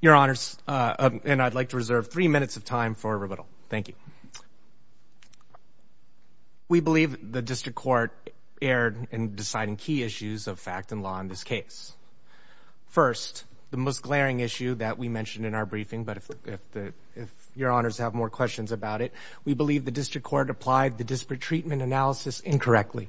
Your Honors, and I'd like to reserve three minutes of time for rebuttal. Thank you. We believe the District Court erred in deciding key issues of fact and law in this case. First, the most glaring issue that we mentioned in our briefing, but if Your Honors have more questions about it, we believe the District Court applied the disparate treatment analysis incorrectly.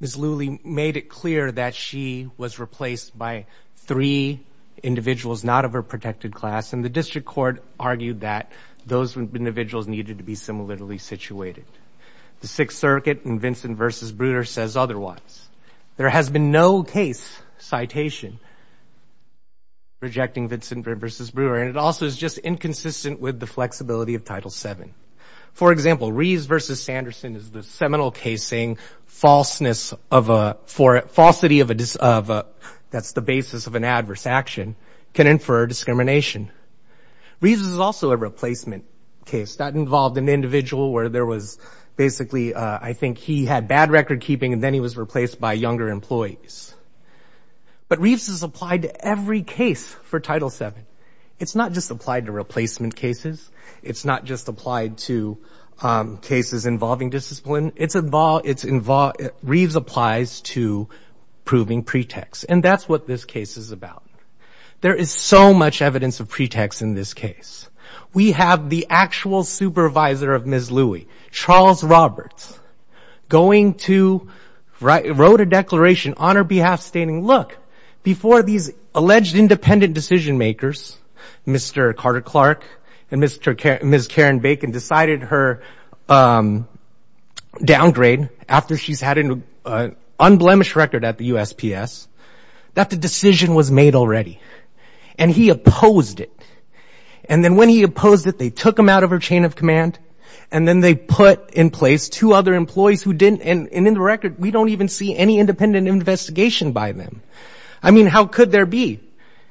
Ms. Lui made it clear that she was replaced by three individuals not of her protected class, and the District Court argued that those individuals needed to be similarly situated. The Sixth Circuit in Vincent v. Brewer says otherwise. There has been no case citation rejecting Vincent v. Brewer, and it also is just inconsistent with the flexibility of Title VII. For example, Reeves v. Sanderson is the seminal case saying falseness of a – falsity of a – that's the basis of an adverse action can infer discrimination. Reeves is also a replacement case. That involved an individual where there was basically I think he had bad record keeping and then he was replaced by younger employees. But Reeves is applied to every case for Title VII. It's not just applied to replacement cases. It's not just applied to cases involving discipline. It's – Reeves applies to proving pretext, and that's what this case is about. There is so much evidence of pretext in this case. We have the actual supervisor of Ms. Louie, Charles Roberts, going to – wrote a declaration on her behalf stating, look, before these alleged independent decision makers, Mr. Carter Clark and Ms. Karen Bacon, decided her downgrade after she's had an unblemished record at the USPS, that the decision was made already. And he opposed it. And then when he opposed it, they took him out of her chain of command and then they put in place two other employees who didn't – and in the record we don't even see any independent investigation by them. I mean, how could there be?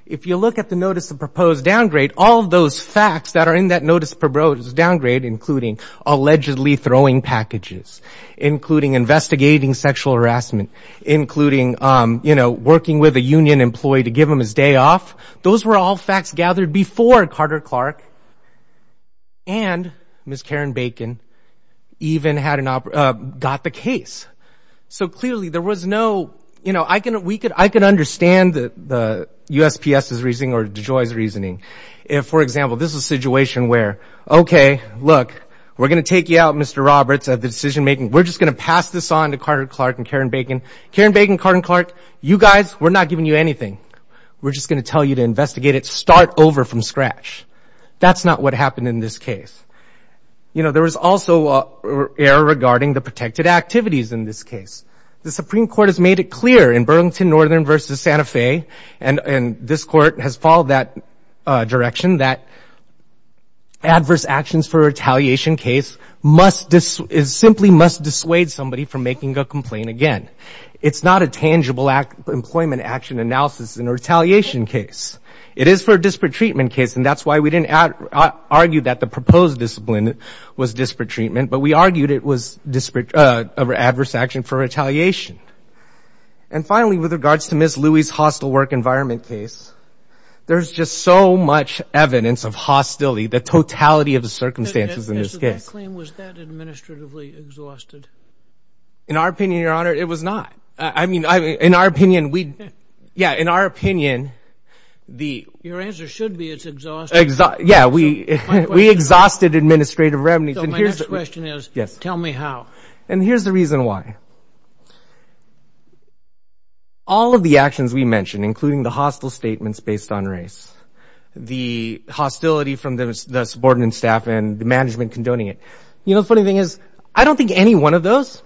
If you look at the notice of proposed downgrade, all of those facts that are in that notice of proposed downgrade, including allegedly throwing packages, including investigating sexual harassment, including working with a union employee to give him his day off, those were all facts gathered before Carter Clark and Ms. Karen Bacon even got the case. So clearly there was no – I can understand the USPS's reasoning or DeJoy's reasoning. If, for example, this is a situation where, okay, look, we're going to take you out, Mr. Roberts, of the decision making. We're just going to pass this on to Carter Clark and Karen Bacon. Karen Bacon, Carter Clark, you guys, we're not giving you anything. We're just going to tell you to investigate it, start over from scratch. That's not what happened in this case. You know, there was also error regarding the protected activities in this case. The Supreme Court has made it clear in Burlington Northern v. Santa Fe, and this court has followed that direction, that adverse actions for retaliation case must – simply must dissuade somebody from making a complaint again. It's not a tangible employment action analysis in a retaliation case. It is for a disparate treatment case, and that's why we didn't argue that the proposed discipline was disparate treatment, but we argued it was adverse action for retaliation. And finally, with regards to Ms. Louie's hostile work environment case, there's just so much evidence of hostility, the totality of the circumstances in this case. Was that claim, was that administratively exhausted? In our opinion, Your Honor, it was not. I mean, in our opinion, we – yeah, in our opinion, the – Your answer should be it's exhausted. Yeah, we exhausted administrative remedies. So my next question is, tell me how. And here's the reason why. So all of the actions we mentioned, including the hostile statements based on race, the hostility from the subordinate staff and the management condoning it, you know, the funny thing is I don't think any one of those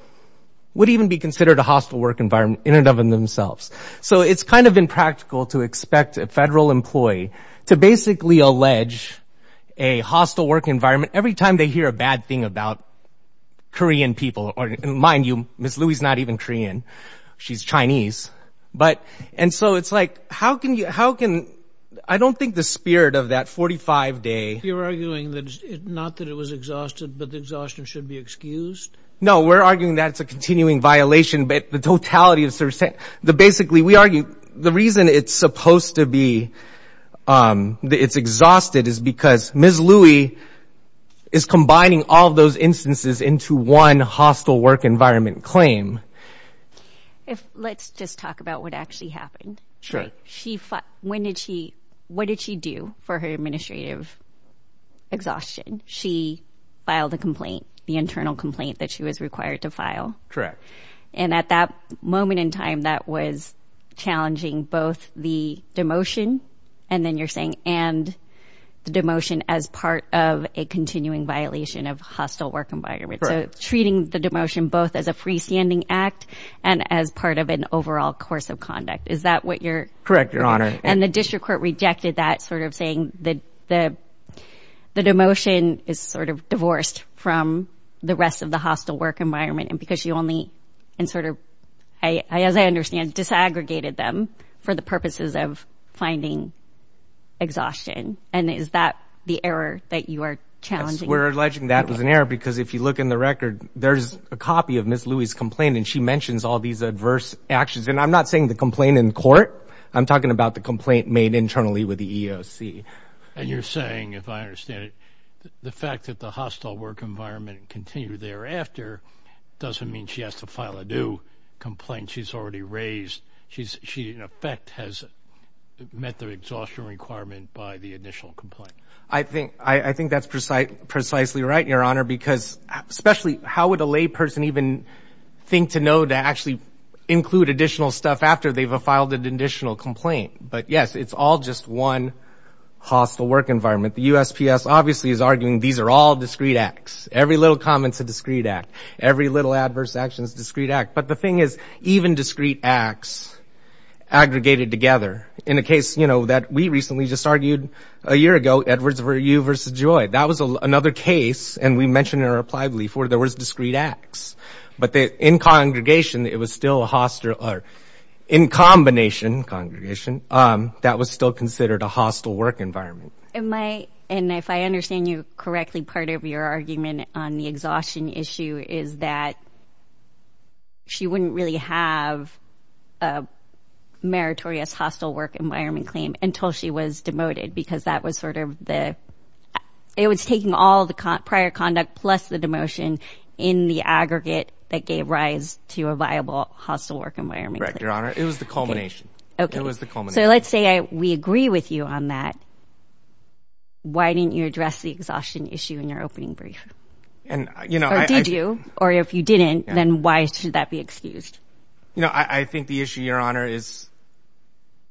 would even be considered a hostile work environment in and of themselves. So it's kind of impractical to expect a federal employee to basically allege a hostile work environment every time they hear a bad thing about Korean people. And mind you, Ms. Louie's not even Korean. She's Chinese. But – and so it's like how can you – how can – I don't think the spirit of that 45-day – You're arguing that – not that it was exhausted, but the exhaustion should be excused? No, we're arguing that it's a continuing violation, but the totality of – basically, we argue the reason it's supposed to be – it's exhausted is because Ms. Louie is combining all of those instances into one hostile work environment claim. Let's just talk about what actually happened. She – when did she – what did she do for her administrative exhaustion? She filed a complaint, the internal complaint that she was required to file. Correct. And at that moment in time, that was challenging both the demotion, and then you're saying and the demotion as part of a continuing violation of hostile work environment. So treating the demotion both as a freestanding act and as part of an overall course of conduct. Is that what you're – Correct, Your Honor. And the district court rejected that, sort of saying the demotion is sort of divorced from the rest of the hostile work environment, and because she only – and sort of, as I understand, disaggregated them for the purposes of finding exhaustion. And is that the error that you are challenging? We're alleging that was an error, because if you look in the record, there's a copy of Ms. Louie's complaint, and she mentions all these adverse actions. And I'm not saying the complaint in court. I'm talking about the complaint made internally with the EEOC. And you're saying, if I understand it, the fact that the hostile work environment continued thereafter doesn't mean she has to file a new complaint she's already raised. She, in effect, has met the exhaustion requirement by the initial complaint. I think that's precisely right, Your Honor, because especially how would a layperson even think to know to actually include additional stuff after they've filed an additional complaint? But yes, it's all just one hostile work environment. The USPS obviously is arguing these are all discrete acts. Every little comment is a discrete act. Every little adverse action is a discrete act. But the thing is, even discrete acts aggregated together. In a case, you know, that we recently just argued a year ago, Edwards v. U v. Joy. That was another case, and we mentioned it in our reply before. There was discrete acts. But in congregation, it was still a hostile or in combination congregation, that was still considered a hostile work environment. And if I understand you correctly, part of your argument on the exhaustion issue is that she wouldn't really have a meritorious hostile work environment claim until she was demoted because that was sort of the— it was taking all the prior conduct plus the demotion in the aggregate that gave rise to a viable hostile work environment claim. Correct, Your Honor. It was the culmination. Okay. It was the culmination. So let's say we agree with you on that. Why didn't you address the exhaustion issue in your opening brief? Or did you? Or if you didn't, then why should that be excused? You know, I think the issue, Your Honor, is,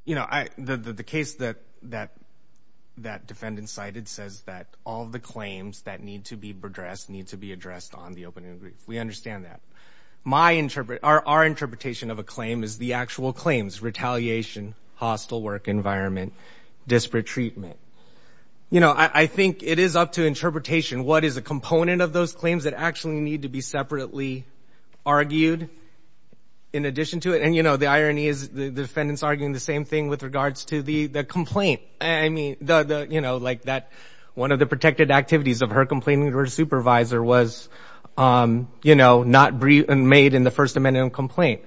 you know, the case that that defendant cited says that all the claims that need to be addressed need to be addressed on the opening brief. We understand that. Our interpretation of a claim is the actual claims, retaliation, hostile work environment, disparate treatment. You know, I think it is up to interpretation. What is a component of those claims that actually need to be separately argued in addition to it? And, you know, the irony is the defendant's arguing the same thing with regards to the complaint. I mean, you know, like that one of the protected activities of her complaining to her supervisor was, you know, not made in the First Amendment complaint.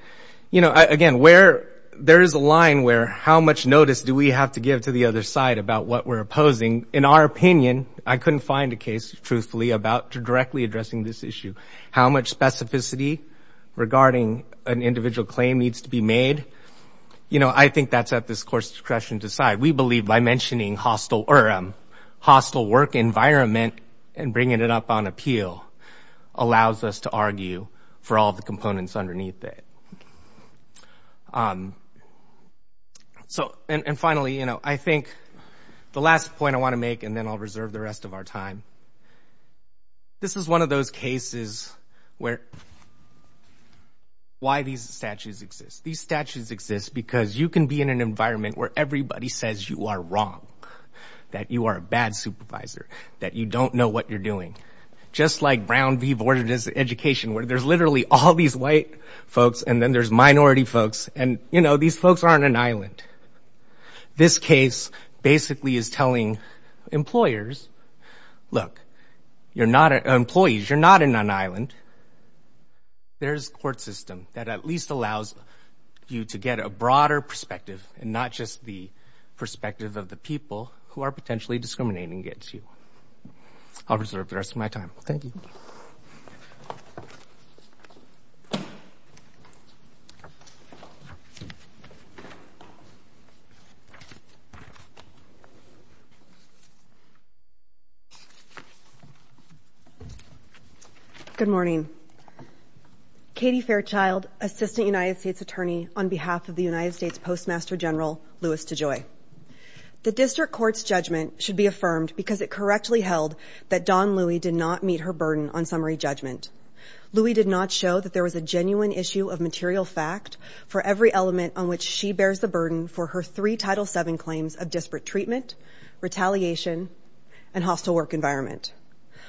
You know, again, where there is a line where how much notice do we have to give to the other side about what we're opposing? In our opinion, I couldn't find a case, truthfully, about directly addressing this issue. How much specificity regarding an individual claim needs to be made? You know, I think that's at this Court's discretion to decide. We believe by mentioning hostile work environment and bringing it up on appeal allows us to argue for all the components underneath it. And finally, you know, I think the last point I want to make, and then I'll reserve the rest of our time, this is one of those cases where why these statutes exist. These statutes exist because you can be in an environment where everybody says you are wrong, that you are a bad supervisor, that you don't know what you're doing. Just like Brown v. Board of Education where there's literally all these white folks and then there's minority folks, and, you know, these folks are on an island. This case basically is telling employers, look, you're not employees, you're not on an island. There's a court system that at least allows you to get a broader perspective and not just the perspective of the people who are potentially discriminating against you. I'll reserve the rest of my time. Thank you. Good morning. Katie Fairchild, Assistant United States Attorney on behalf of the United States Postmaster General, Louis DeJoy, the district court's judgment should be affirmed because it correctly held that Dawn Louie did not meet her burden on summary judgment. Louie did not show that there was a genuine issue of material fact for every element on which she bears the burden for her three Title VII claims of disparate treatment, retaliation, and hostile work environment.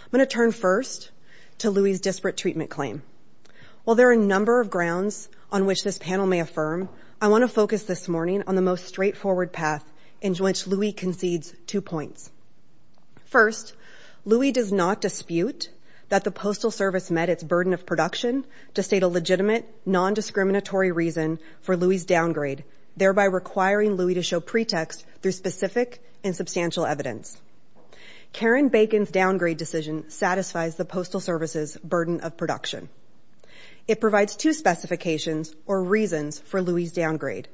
I'm going to turn first to Louie's disparate treatment claim. While there are a number of grounds on which this panel may affirm, I want to focus this morning on the most straightforward path in which Louie concedes two points. First, Louie does not dispute that the Postal Service met its burden of production to state a legitimate, nondiscriminatory reason for Louie's downgrade, thereby requiring Louie to show pretext through specific and substantial evidence. Karen Bacon's downgrade decision satisfies the Postal Service's burden of production. It provides two specifications or reasons for Louie's downgrade.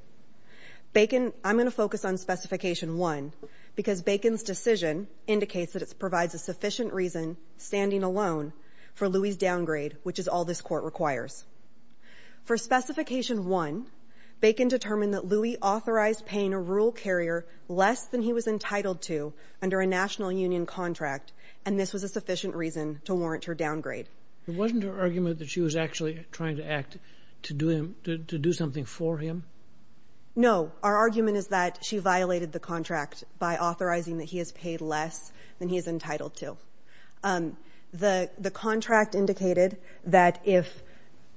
I'm going to focus on Specification 1 because Bacon's decision indicates that it provides a sufficient reason, standing alone, for Louie's downgrade, which is all this court requires. For Specification 1, Bacon determined that Louie authorized paying a rural carrier less than he was entitled to under a national union contract, and this was a sufficient reason to warrant her downgrade. It wasn't her argument that she was actually trying to act to do something for him? No. Our argument is that she violated the contract by authorizing that he is paid less than he is entitled to. The contract indicated that if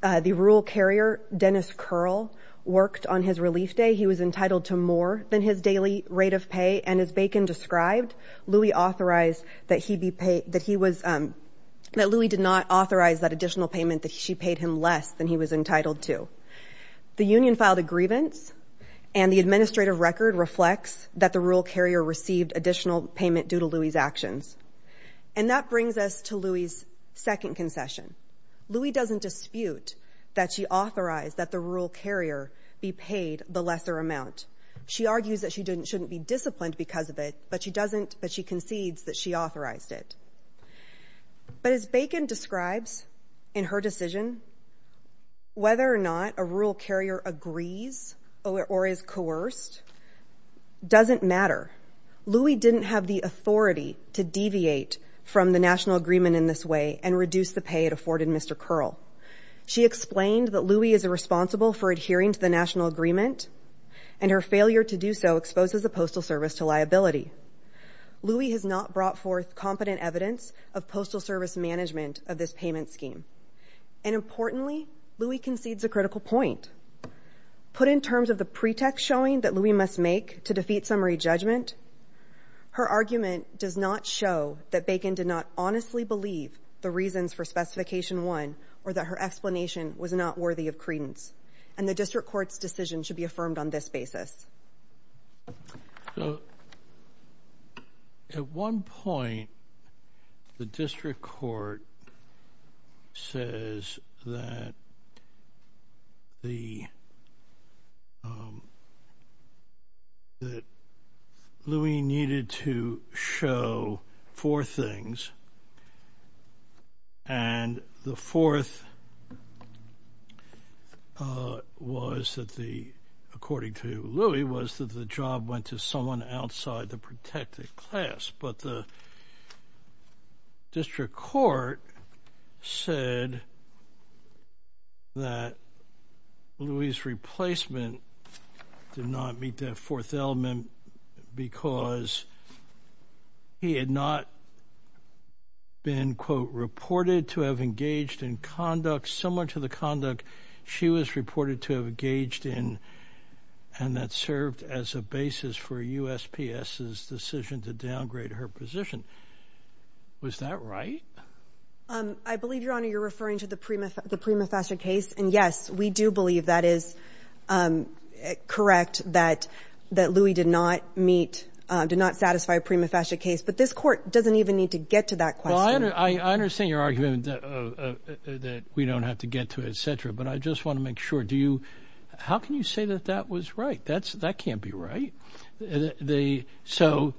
the rural carrier, Dennis Curl, worked on his relief day, he was entitled to more than his daily rate of pay, and as Bacon described, Louie did not authorize that additional payment that she paid him less than he was entitled to. The union filed a grievance, and the administrative record reflects that the rural carrier received additional payment due to Louie's actions. And that brings us to Louie's second concession. Louie doesn't dispute that she authorized that the rural carrier be paid the lesser amount. She argues that she shouldn't be disciplined because of it, but she concedes that she authorized it. But as Bacon describes in her decision, whether or not a rural carrier agrees or is coerced doesn't matter. Louie didn't have the authority to deviate from the national agreement in this way and reduce the pay it afforded Mr. Curl. She explained that Louie is responsible for adhering to the national agreement, and her failure to do so exposes the Postal Service to liability. Louie has not brought forth competent evidence of Postal Service management of this payment scheme. And importantly, Louie concedes a critical point. Put in terms of the pretext showing that Louie must make to defeat summary judgment, her argument does not show that Bacon did not honestly believe the reasons for Specification 1 or that her explanation was not worthy of credence. And the District Court's decision should be affirmed on this basis. At one point, the District Court says that Louie needed to show four things, and the fourth was that the, according to Louie, was that the job went to someone outside the protected class. But the District Court said that Louie's replacement did not meet that fourth element because he had not been, quote, reported to have engaged in conduct similar to the conduct she was reported to have engaged in and that served as a basis for USPS's decision to downgrade her position. Was that right? I believe, Your Honor, you're referring to the Prima Fascia case. And yes, we do believe that is correct, that Louie did not meet, did not satisfy a Prima Fascia case. But this Court doesn't even need to get to that question. I understand your argument that we don't have to get to it, etc. But I just want to make sure, how can you say that that was right? That can't be right. So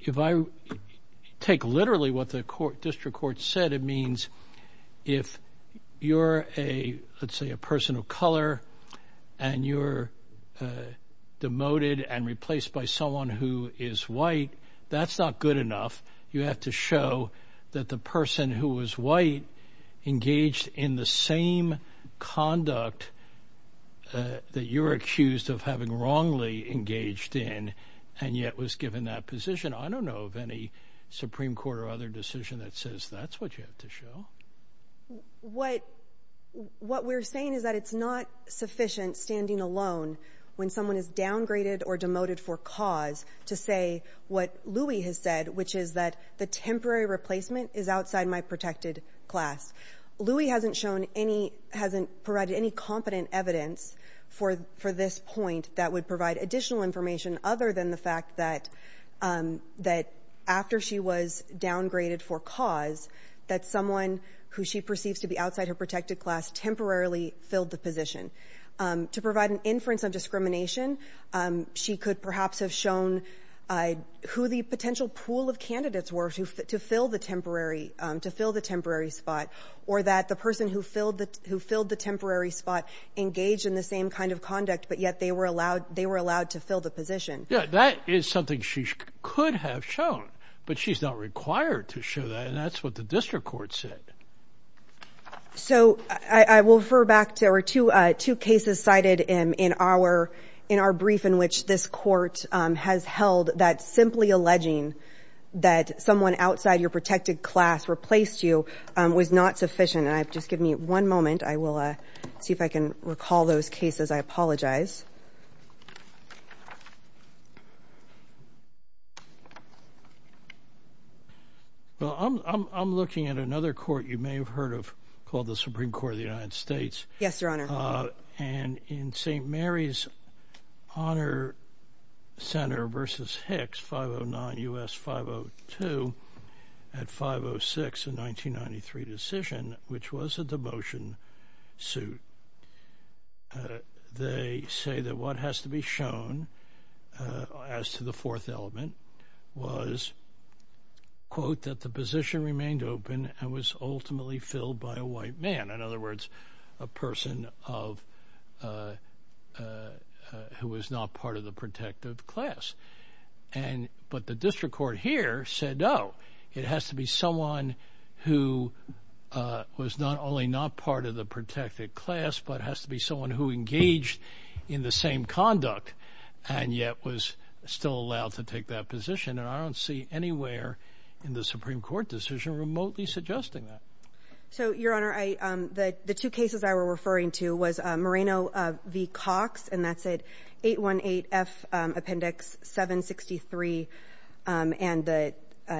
if I take literally what the District Court said, it means if you're a, let's say, a person of color and you're demoted and replaced by someone who is white, that's not good enough. You have to show that the person who was white engaged in the same conduct that you're accused of having wrongly engaged in and yet was given that position. I don't know of any Supreme Court or other decision that says that's what you have to show. What we're saying is that it's not sufficient standing alone when someone is downgraded or demoted for cause to say what Louie has said, which is that the temporary replacement is outside my protected class. Louie hasn't provided any competent evidence for this point that would provide additional information other than the fact that after she was downgraded for cause, that someone who she perceives to be outside her protected class temporarily filled the position. To provide an inference of discrimination, she could perhaps have shown who the potential pool of candidates were to fill the temporary spot or that the person who filled the temporary spot engaged in the same kind of conduct, but yet they were allowed to fill the position. Yeah, that is something she could have shown, but she's not required to show that, and that's what the District Court said. So I will refer back to our two cases cited in our brief in which this court has held that simply alleging that someone outside your protected class replaced you was not sufficient. Just give me one moment. I will see if I can recall those cases. I apologize. Well, I'm looking at another court you may have heard of called the Supreme Court of the United States. Yes, Your Honor. And in St. Mary's Honor Center v. Hicks, 509 U.S. 502 at 506 in 1993 decision, which was a demotion suit. They say that what has to be shown as to the fourth element was, quote, that the position remained open and was ultimately filled by a white man. In other words, a person who was not part of the protected class. But the District Court here said, oh, it has to be someone who was not only not part of the protected class, but has to be someone who engaged in the same conduct and yet was still allowed to take that position. And I don't see anywhere in the Supreme Court decision remotely suggesting that. So, Your Honor, I the two cases I were referring to was Moreno v. Cox, and that's it. Eight one eight F Appendix 763. And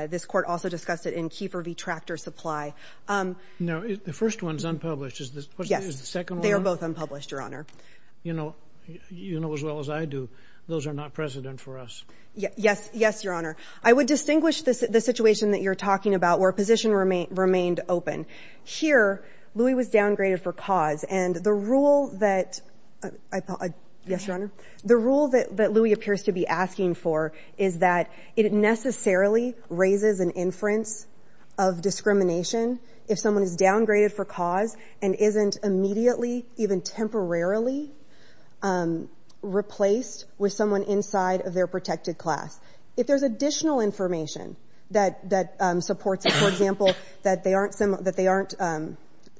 this court also discussed it in Kiefer v. Tractor Supply. No, the first one's unpublished. Is this the second? They are both unpublished, Your Honor. You know, you know as well as I do. Those are not precedent for us. Yes. Yes, Your Honor. I would distinguish this the situation that you're talking about where position remain remained open. Here, Louis was downgraded for cause. And the rule that I thought. Yes, Your Honor. The rule that that Louis appears to be asking for is that it necessarily raises an inference of discrimination. If someone is downgraded for cause and isn't immediately, even temporarily replaced with someone inside of their protected class. If there's additional information that supports, for example, that they aren't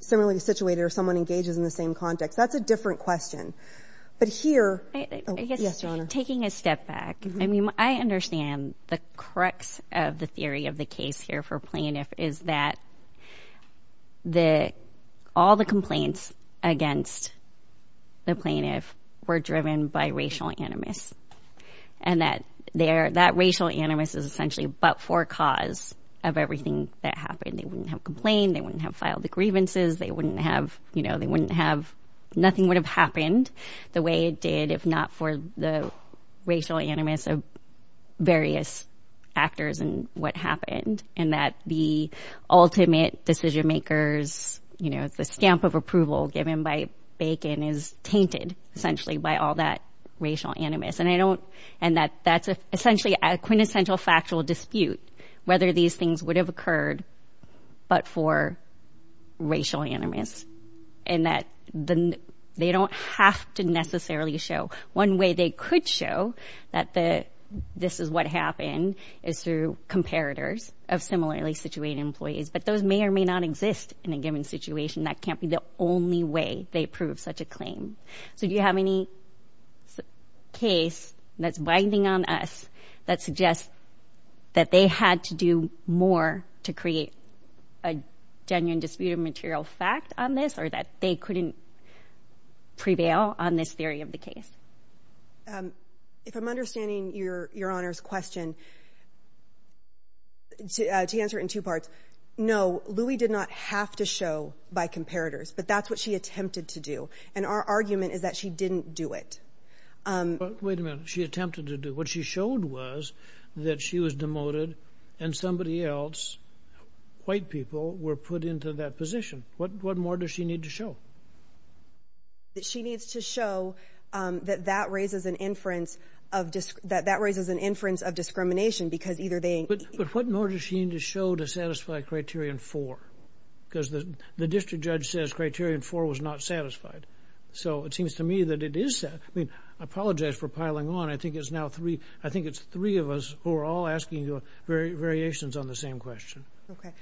similarly situated or someone engages in the same context. That's a different question. But here. Yes, Your Honor. Taking a step back. I mean, I understand the crux of the theory of the case here for plaintiff is that all the complaints against the plaintiff were driven by racial animus. And that there, that racial animus is essentially but for cause of everything that happened. They wouldn't have complained. They wouldn't have filed the grievances. They wouldn't have, you know, they wouldn't have. Nothing would have happened the way it did if not for the racial animus of various actors and what happened. And that the ultimate decision makers, you know, the stamp of approval given by Bacon is tainted essentially by all that racial animus. And I don't. And that that's essentially a quintessential factual dispute. Whether these things would have occurred, but for racial animus and that they don't have to necessarily show one way they could show that this is what happened is through comparators of similarly situated employees. But those may or may not exist in a given situation. That can't be the only way they prove such a claim. So do you have any case that's binding on us that suggests that they had to do more to create a genuine disputed material fact on this or that they couldn't prevail on this theory of the case? If I'm understanding your your honor's question to answer in two parts. No, Louie did not have to show by comparators, but that's what she attempted to do. And our argument is that she didn't do it. Wait a minute. She attempted to do what she showed was that she was demoted and somebody else. White people were put into that position. What what more does she need to show? That she needs to show that that raises an inference of just that that raises an inference of discrimination because either they. But what more does she need to show to satisfy Criterion 4? Because the district judge says Criterion 4 was not satisfied. So it seems to me that it is. I mean, I apologize for piling on. I think it's now three. I think it's three of us who are all asking you variations on the same question. OK,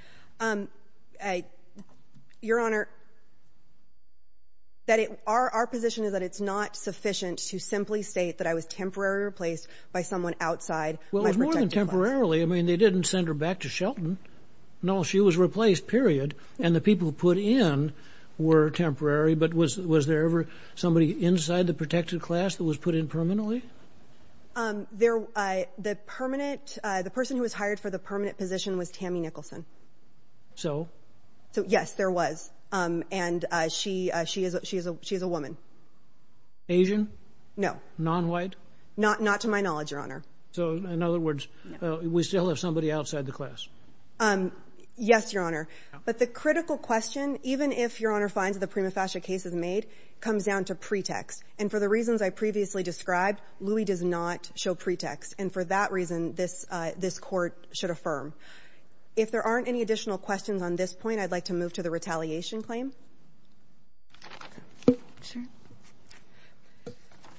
I your honor. That it are our position is that it's not sufficient to simply state that I was temporarily replaced by someone outside. Well, it's more than temporarily. I mean, they didn't send her back to Shelton. No, she was replaced, period. And the people put in were temporary. But was was there ever somebody inside the protected class that was put in permanently? They're the permanent. The person who was hired for the permanent position was Tammy Nicholson. So. So, yes, there was. And she she is. She is. She is a woman. Asian? No, non-white. Not not to my knowledge, your honor. So in other words, we still have somebody outside the class. Yes, your honor. But the critical question, even if your honor finds the prima facie case is made, comes down to pretext. And for the reasons I previously described, Louie does not show pretext. And for that reason, this this court should affirm if there aren't any additional questions on this point. I'd like to move to the retaliation claim.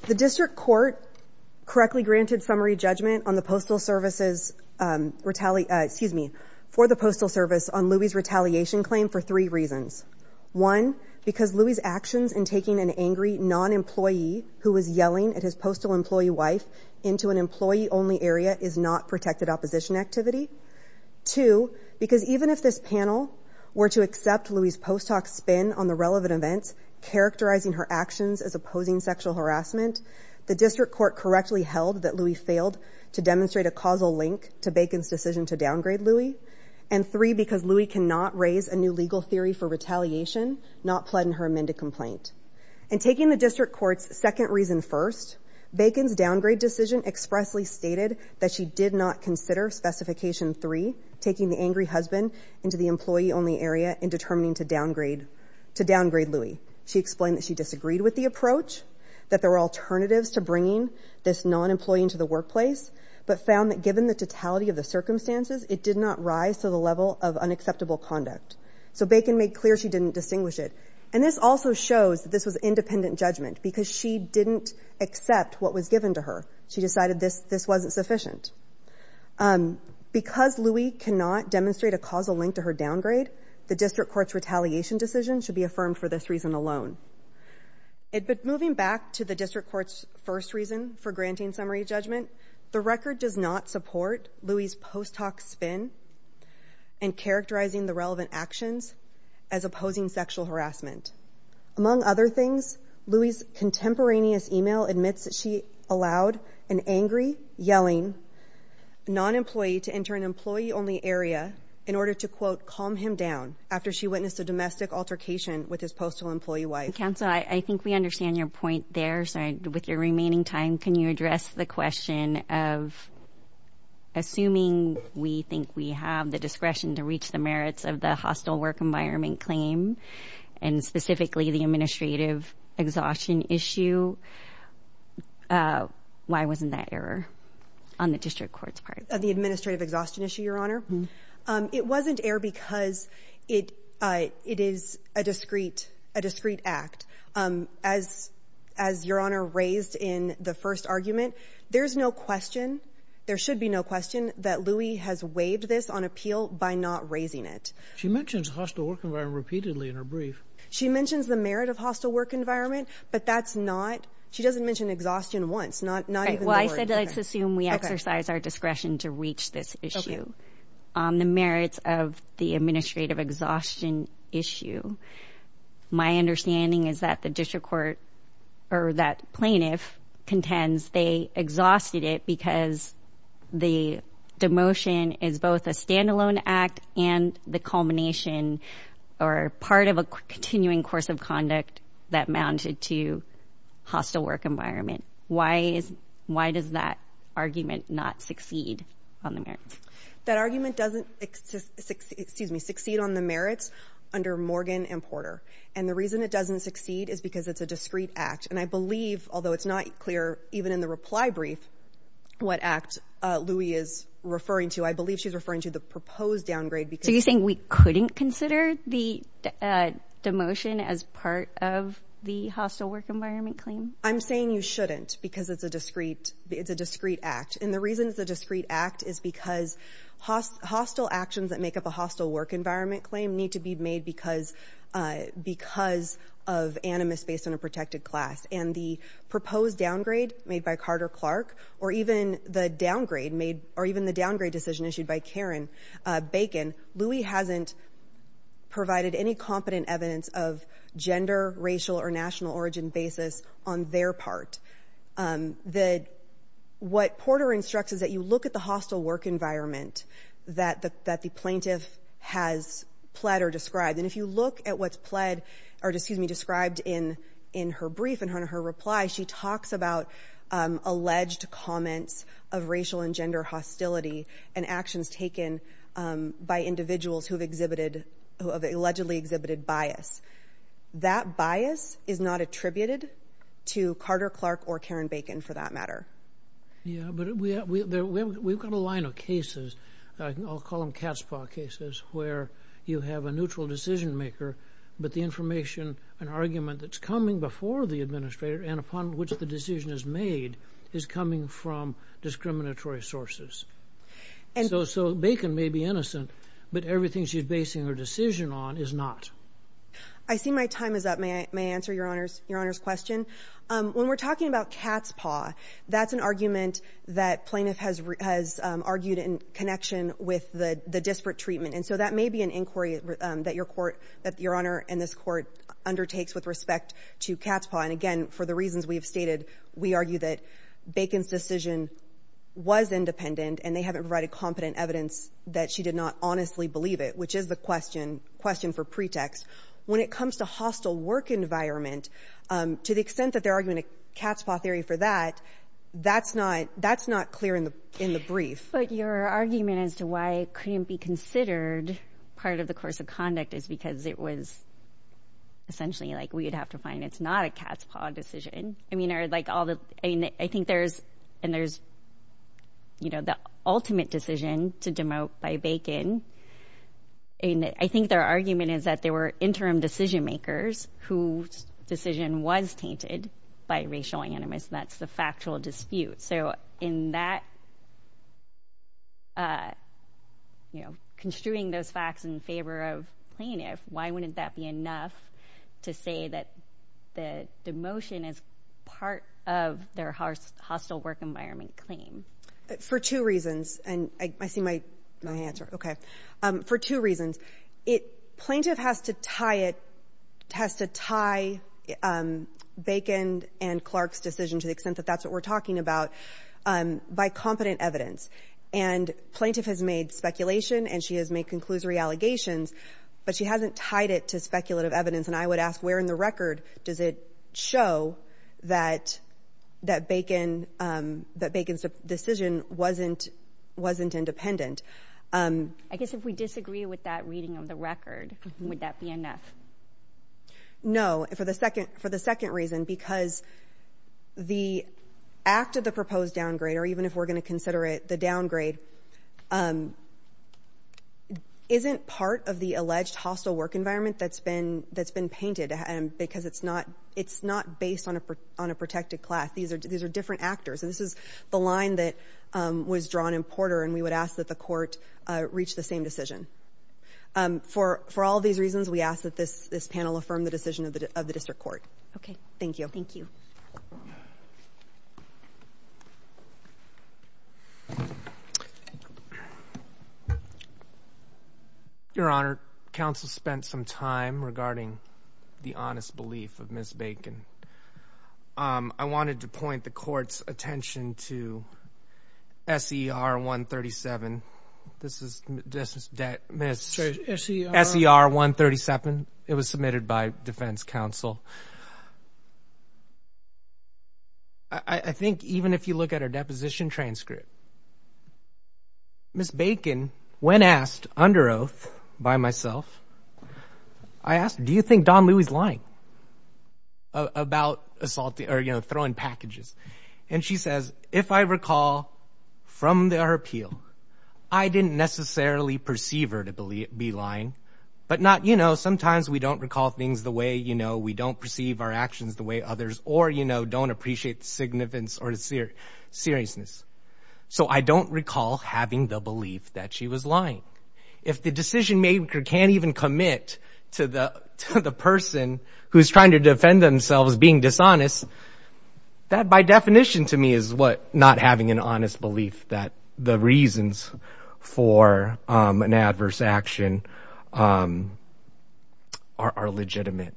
The district court correctly granted summary judgment on the Postal Service's retaliate. Excuse me for the Postal Service on Louie's retaliation claim for three reasons. One, because Louie's actions in taking an angry non-employee who was yelling at his postal employee wife into an employee only area is not protected opposition activity. Two, because even if this panel were to accept Louie's post hoc spin on the relevant events, characterizing her actions as opposing sexual harassment, the district court correctly held that Louie failed to demonstrate a causal link to Bacon's decision to downgrade Louie. And three, because Louie cannot raise a new legal theory for retaliation, not pled in her amended complaint. And taking the district court's second reason first, Bacon's downgrade decision expressly stated that she did not consider specification three, taking the angry husband into the employee only area in determining to downgrade to downgrade Louie. She explained that she disagreed with the approach, that there were alternatives to bringing this non-employee into the workplace, but found that given the totality of the circumstances, it did not rise to the level of unacceptable conduct. So Bacon made clear she didn't distinguish it. And this also shows that this was independent judgment because she didn't accept what was given to her. She decided this this wasn't sufficient. Because Louie cannot demonstrate a causal link to her downgrade, the district court's retaliation decision should be affirmed for this reason alone. But moving back to the district court's first reason for granting summary judgment, the record does not support Louie's post hoc spin and characterizing the relevant actions as opposing sexual harassment. Among other things, Louie's contemporaneous email admits that she allowed an angry, yelling non-employee to enter an employee only area in order to, quote, calm him down after she witnessed a domestic altercation with his postal employee wife. Counsel, I think we understand your point there. So with your remaining time, can you address the question of. Assuming we think we have the discretion to reach the merits of the hostile work environment claim and specifically the administrative exhaustion issue. Why wasn't that error on the district court's part of the administrative exhaustion issue, Your Honor? It wasn't air because it it is a discreet, a discreet act. As as Your Honor raised in the first argument, there is no question. There should be no question that Louie has waived this on appeal by not raising it. She mentions hostile work repeatedly in her brief. She mentions the merit of hostile work environment, but that's not she doesn't mention exhaustion once, not not. Well, I said let's assume we exercise our discretion to reach this issue on the merits of the administrative exhaustion issue. My understanding is that the district court or that plaintiff contends they exhausted it because the demotion is both a standalone act and the culmination or part of a continuing course of conduct that mounted to hostile work environment. Why is why does that argument not succeed on the merits? That argument doesn't excuse me, succeed on the merits under Morgan and Porter. And the reason it doesn't succeed is because it's a discreet act. And I believe, although it's not clear even in the reply brief, what act Louie is referring to, I believe she's referring to the proposed downgrade. So you think we couldn't consider the demotion as part of the hostile work environment claim? I'm saying you shouldn't because it's a discreet it's a discreet act. And the reason it's a discreet act is because hostile actions that make up a hostile work environment claim need to be made because because of animus based on a protected class. And the proposed downgrade made by Carter Clark or even the downgrade made or even the downgrade decision issued by Karen Bacon, Louie hasn't provided any competent evidence of gender, racial or national origin basis on their part. The what Porter instructs is that you look at the hostile work environment that that the plaintiff has pled or described. And if you look at what's pled or excuse me, described in in her brief and her reply, she talks about alleged comments of racial and gender hostility and actions taken by individuals who have exhibited who have allegedly exhibited bias. That bias is not attributed to Carter Clark or Karen Bacon for that matter. Yeah, but we we've got a line of cases. I'll call them cat's paw cases where you have a neutral decision maker. But the information, an argument that's coming before the administrator and upon which the decision is made is coming from discriminatory sources. And so so Bacon may be innocent, but everything she's basing her decision on is not. I see my time is up. May I may answer your honor's your honor's question. When we're talking about cat's paw, that's an argument that plaintiff has has argued in connection with the disparate treatment. And so that may be an inquiry that your court that your honor and this court undertakes with respect to cat's paw. And again, for the reasons we've stated, we argue that Bacon's decision was independent and they haven't provided competent evidence that she did not honestly believe it, which is the question. For pretext, when it comes to hostile work environment, to the extent that they're arguing a cat's paw theory for that, that's not that's not clear in the in the brief. But your argument as to why it couldn't be considered part of the course of conduct is because it was. Essentially, like we would have to find it's not a cat's paw decision. I mean, are like all the I think there's and there's. You know, the ultimate decision to demote by Bacon. I think their argument is that there were interim decision makers whose decision was tainted by racial animus. That's the factual dispute. So in that. You know, construing those facts in favor of plaintiff, why wouldn't that be enough to say that the demotion is part of their hostile work environment claim for two reasons? And I see my my answer. OK. For two reasons. It plaintiff has to tie it, has to tie Bacon and Clark's decision to the extent that that's what we're talking about by competent evidence. And plaintiff has made speculation and she has made conclusory allegations, but she hasn't tied it to speculative evidence. And I would ask where in the record does it show that that Bacon that Bacon's decision wasn't wasn't independent? I guess if we disagree with that reading of the record, would that be enough? No. For the second for the second reason, because the act of the proposed downgrade or even if we're going to consider it the downgrade. Isn't part of the alleged hostile work environment that's been that's been painted because it's not it's not based on a on a protected class. These are these are different actors. And this is the line that was drawn in Porter. And we would ask that the court reach the same decision for for all these reasons. We ask that this this panel affirm the decision of the of the district court. OK, thank you. Thank you. Your Honor, counsel spent some time regarding the honest belief of Miss Bacon. I wanted to point the court's attention to S.E.R. one thirty seven. This is just that Miss S.E.R. one thirty seven. It was submitted by defense counsel. I think even if you look at her deposition transcript. Miss Bacon, when asked under oath by myself, I asked, do you think Don Lewis line? About assault or, you know, throwing packages. And she says, if I recall from their appeal, I didn't necessarily perceive her to be lying, but not, you know, sometimes we don't recall things the way, you know, we don't perceive our actions the way others or, you know, don't appreciate the significance or the seriousness. So I don't recall having the belief that she was lying. If the decision maker can't even commit to the to the person who's trying to defend themselves, being dishonest. That by definition to me is what not having an honest belief that the reasons for an adverse action are legitimate.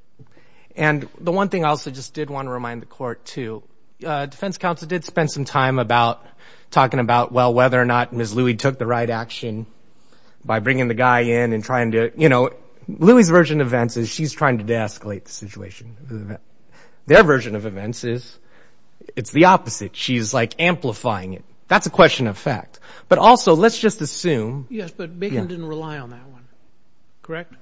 And the one thing I also just did want to remind the court to defense counsel did spend some time about talking about, well, whether or not Miss Louie took the right action by bringing the guy in and trying to, you know, Louie's version of events is she's trying to de-escalate the situation. Their version of events is it's the opposite. She's like amplifying it. That's a question of fact. But also, let's just assume. Yes, but Bacon didn't rely on that one. Correct.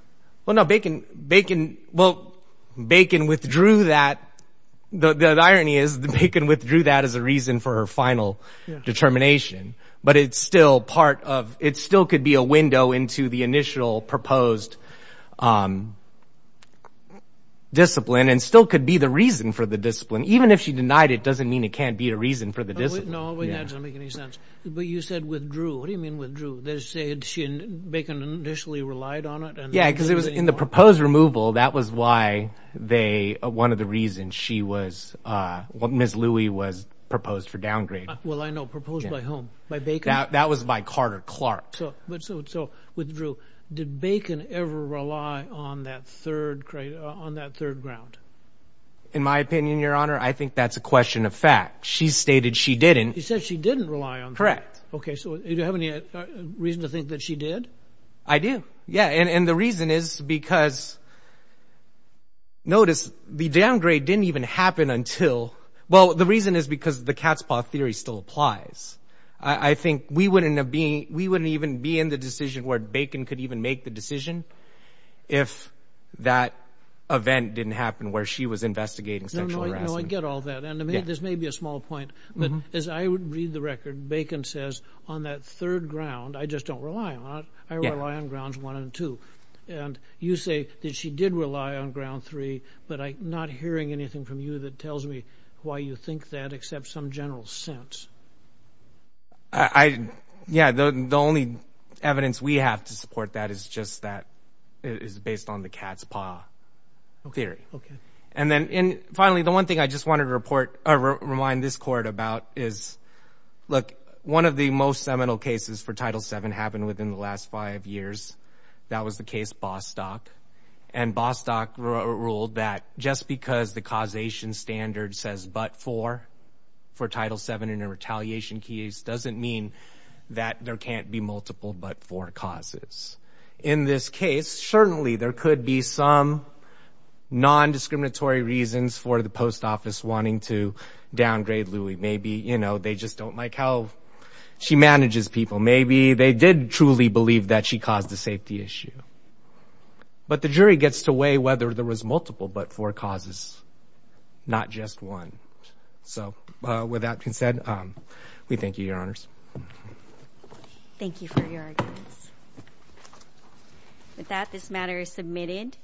Well, no, Bacon. Bacon. Well, Bacon withdrew that. The irony is that Bacon withdrew that as a reason for her final determination. But it's still part of it still could be a window into the initial proposed discipline and still could be the reason for the discipline. Even if she denied it doesn't mean it can't be a reason for the discipline. No, that doesn't make any sense. But you said withdrew. What do you mean withdrew? They're saying she and Bacon initially relied on it. Yeah, because it was in the proposed removal. That was why they one of the reasons she was what Miss Louie was proposed for downgrade. Well, I know proposed by whom? By Bacon? That was by Carter Clark. So with Drew, did Bacon ever rely on that third grade on that third ground? In my opinion, Your Honor, I think that's a question of fact. She stated she didn't. She said she didn't rely on. Correct. Okay. So do you have any reason to think that she did? I do. Yeah. And the reason is because notice the downgrade didn't even happen until. Well, the reason is because the cat's paw theory still applies. I think we wouldn't have been we wouldn't even be in the decision where Bacon could even make the decision. If that event didn't happen where she was investigating sexual harassment. I get all that. And this may be a small point, but as I read the record, Bacon says on that third ground, I just don't rely on it. I rely on grounds one and two. And you say that she did rely on ground three. But I'm not hearing anything from you that tells me why you think that except some general sense. Yeah, the only evidence we have to support that is just that it is based on the cat's paw theory. Okay. And then finally, the one thing I just wanted to report or remind this court about is, look, one of the most seminal cases for Title VII happened within the last five years. That was the case Bostock. And Bostock ruled that just because the causation standard says but for for Title VII in a retaliation case doesn't mean that there can't be multiple but for causes. In this case, certainly there could be some nondiscriminatory reasons for the post office wanting to downgrade Louie. Maybe, you know, they just don't like how she manages people. Maybe they did truly believe that she caused a safety issue. But the jury gets to weigh whether there was multiple but for causes, not just one. So with that being said, we thank you, Your Honors. Thank you for your arguments. With that, this matter is submitted.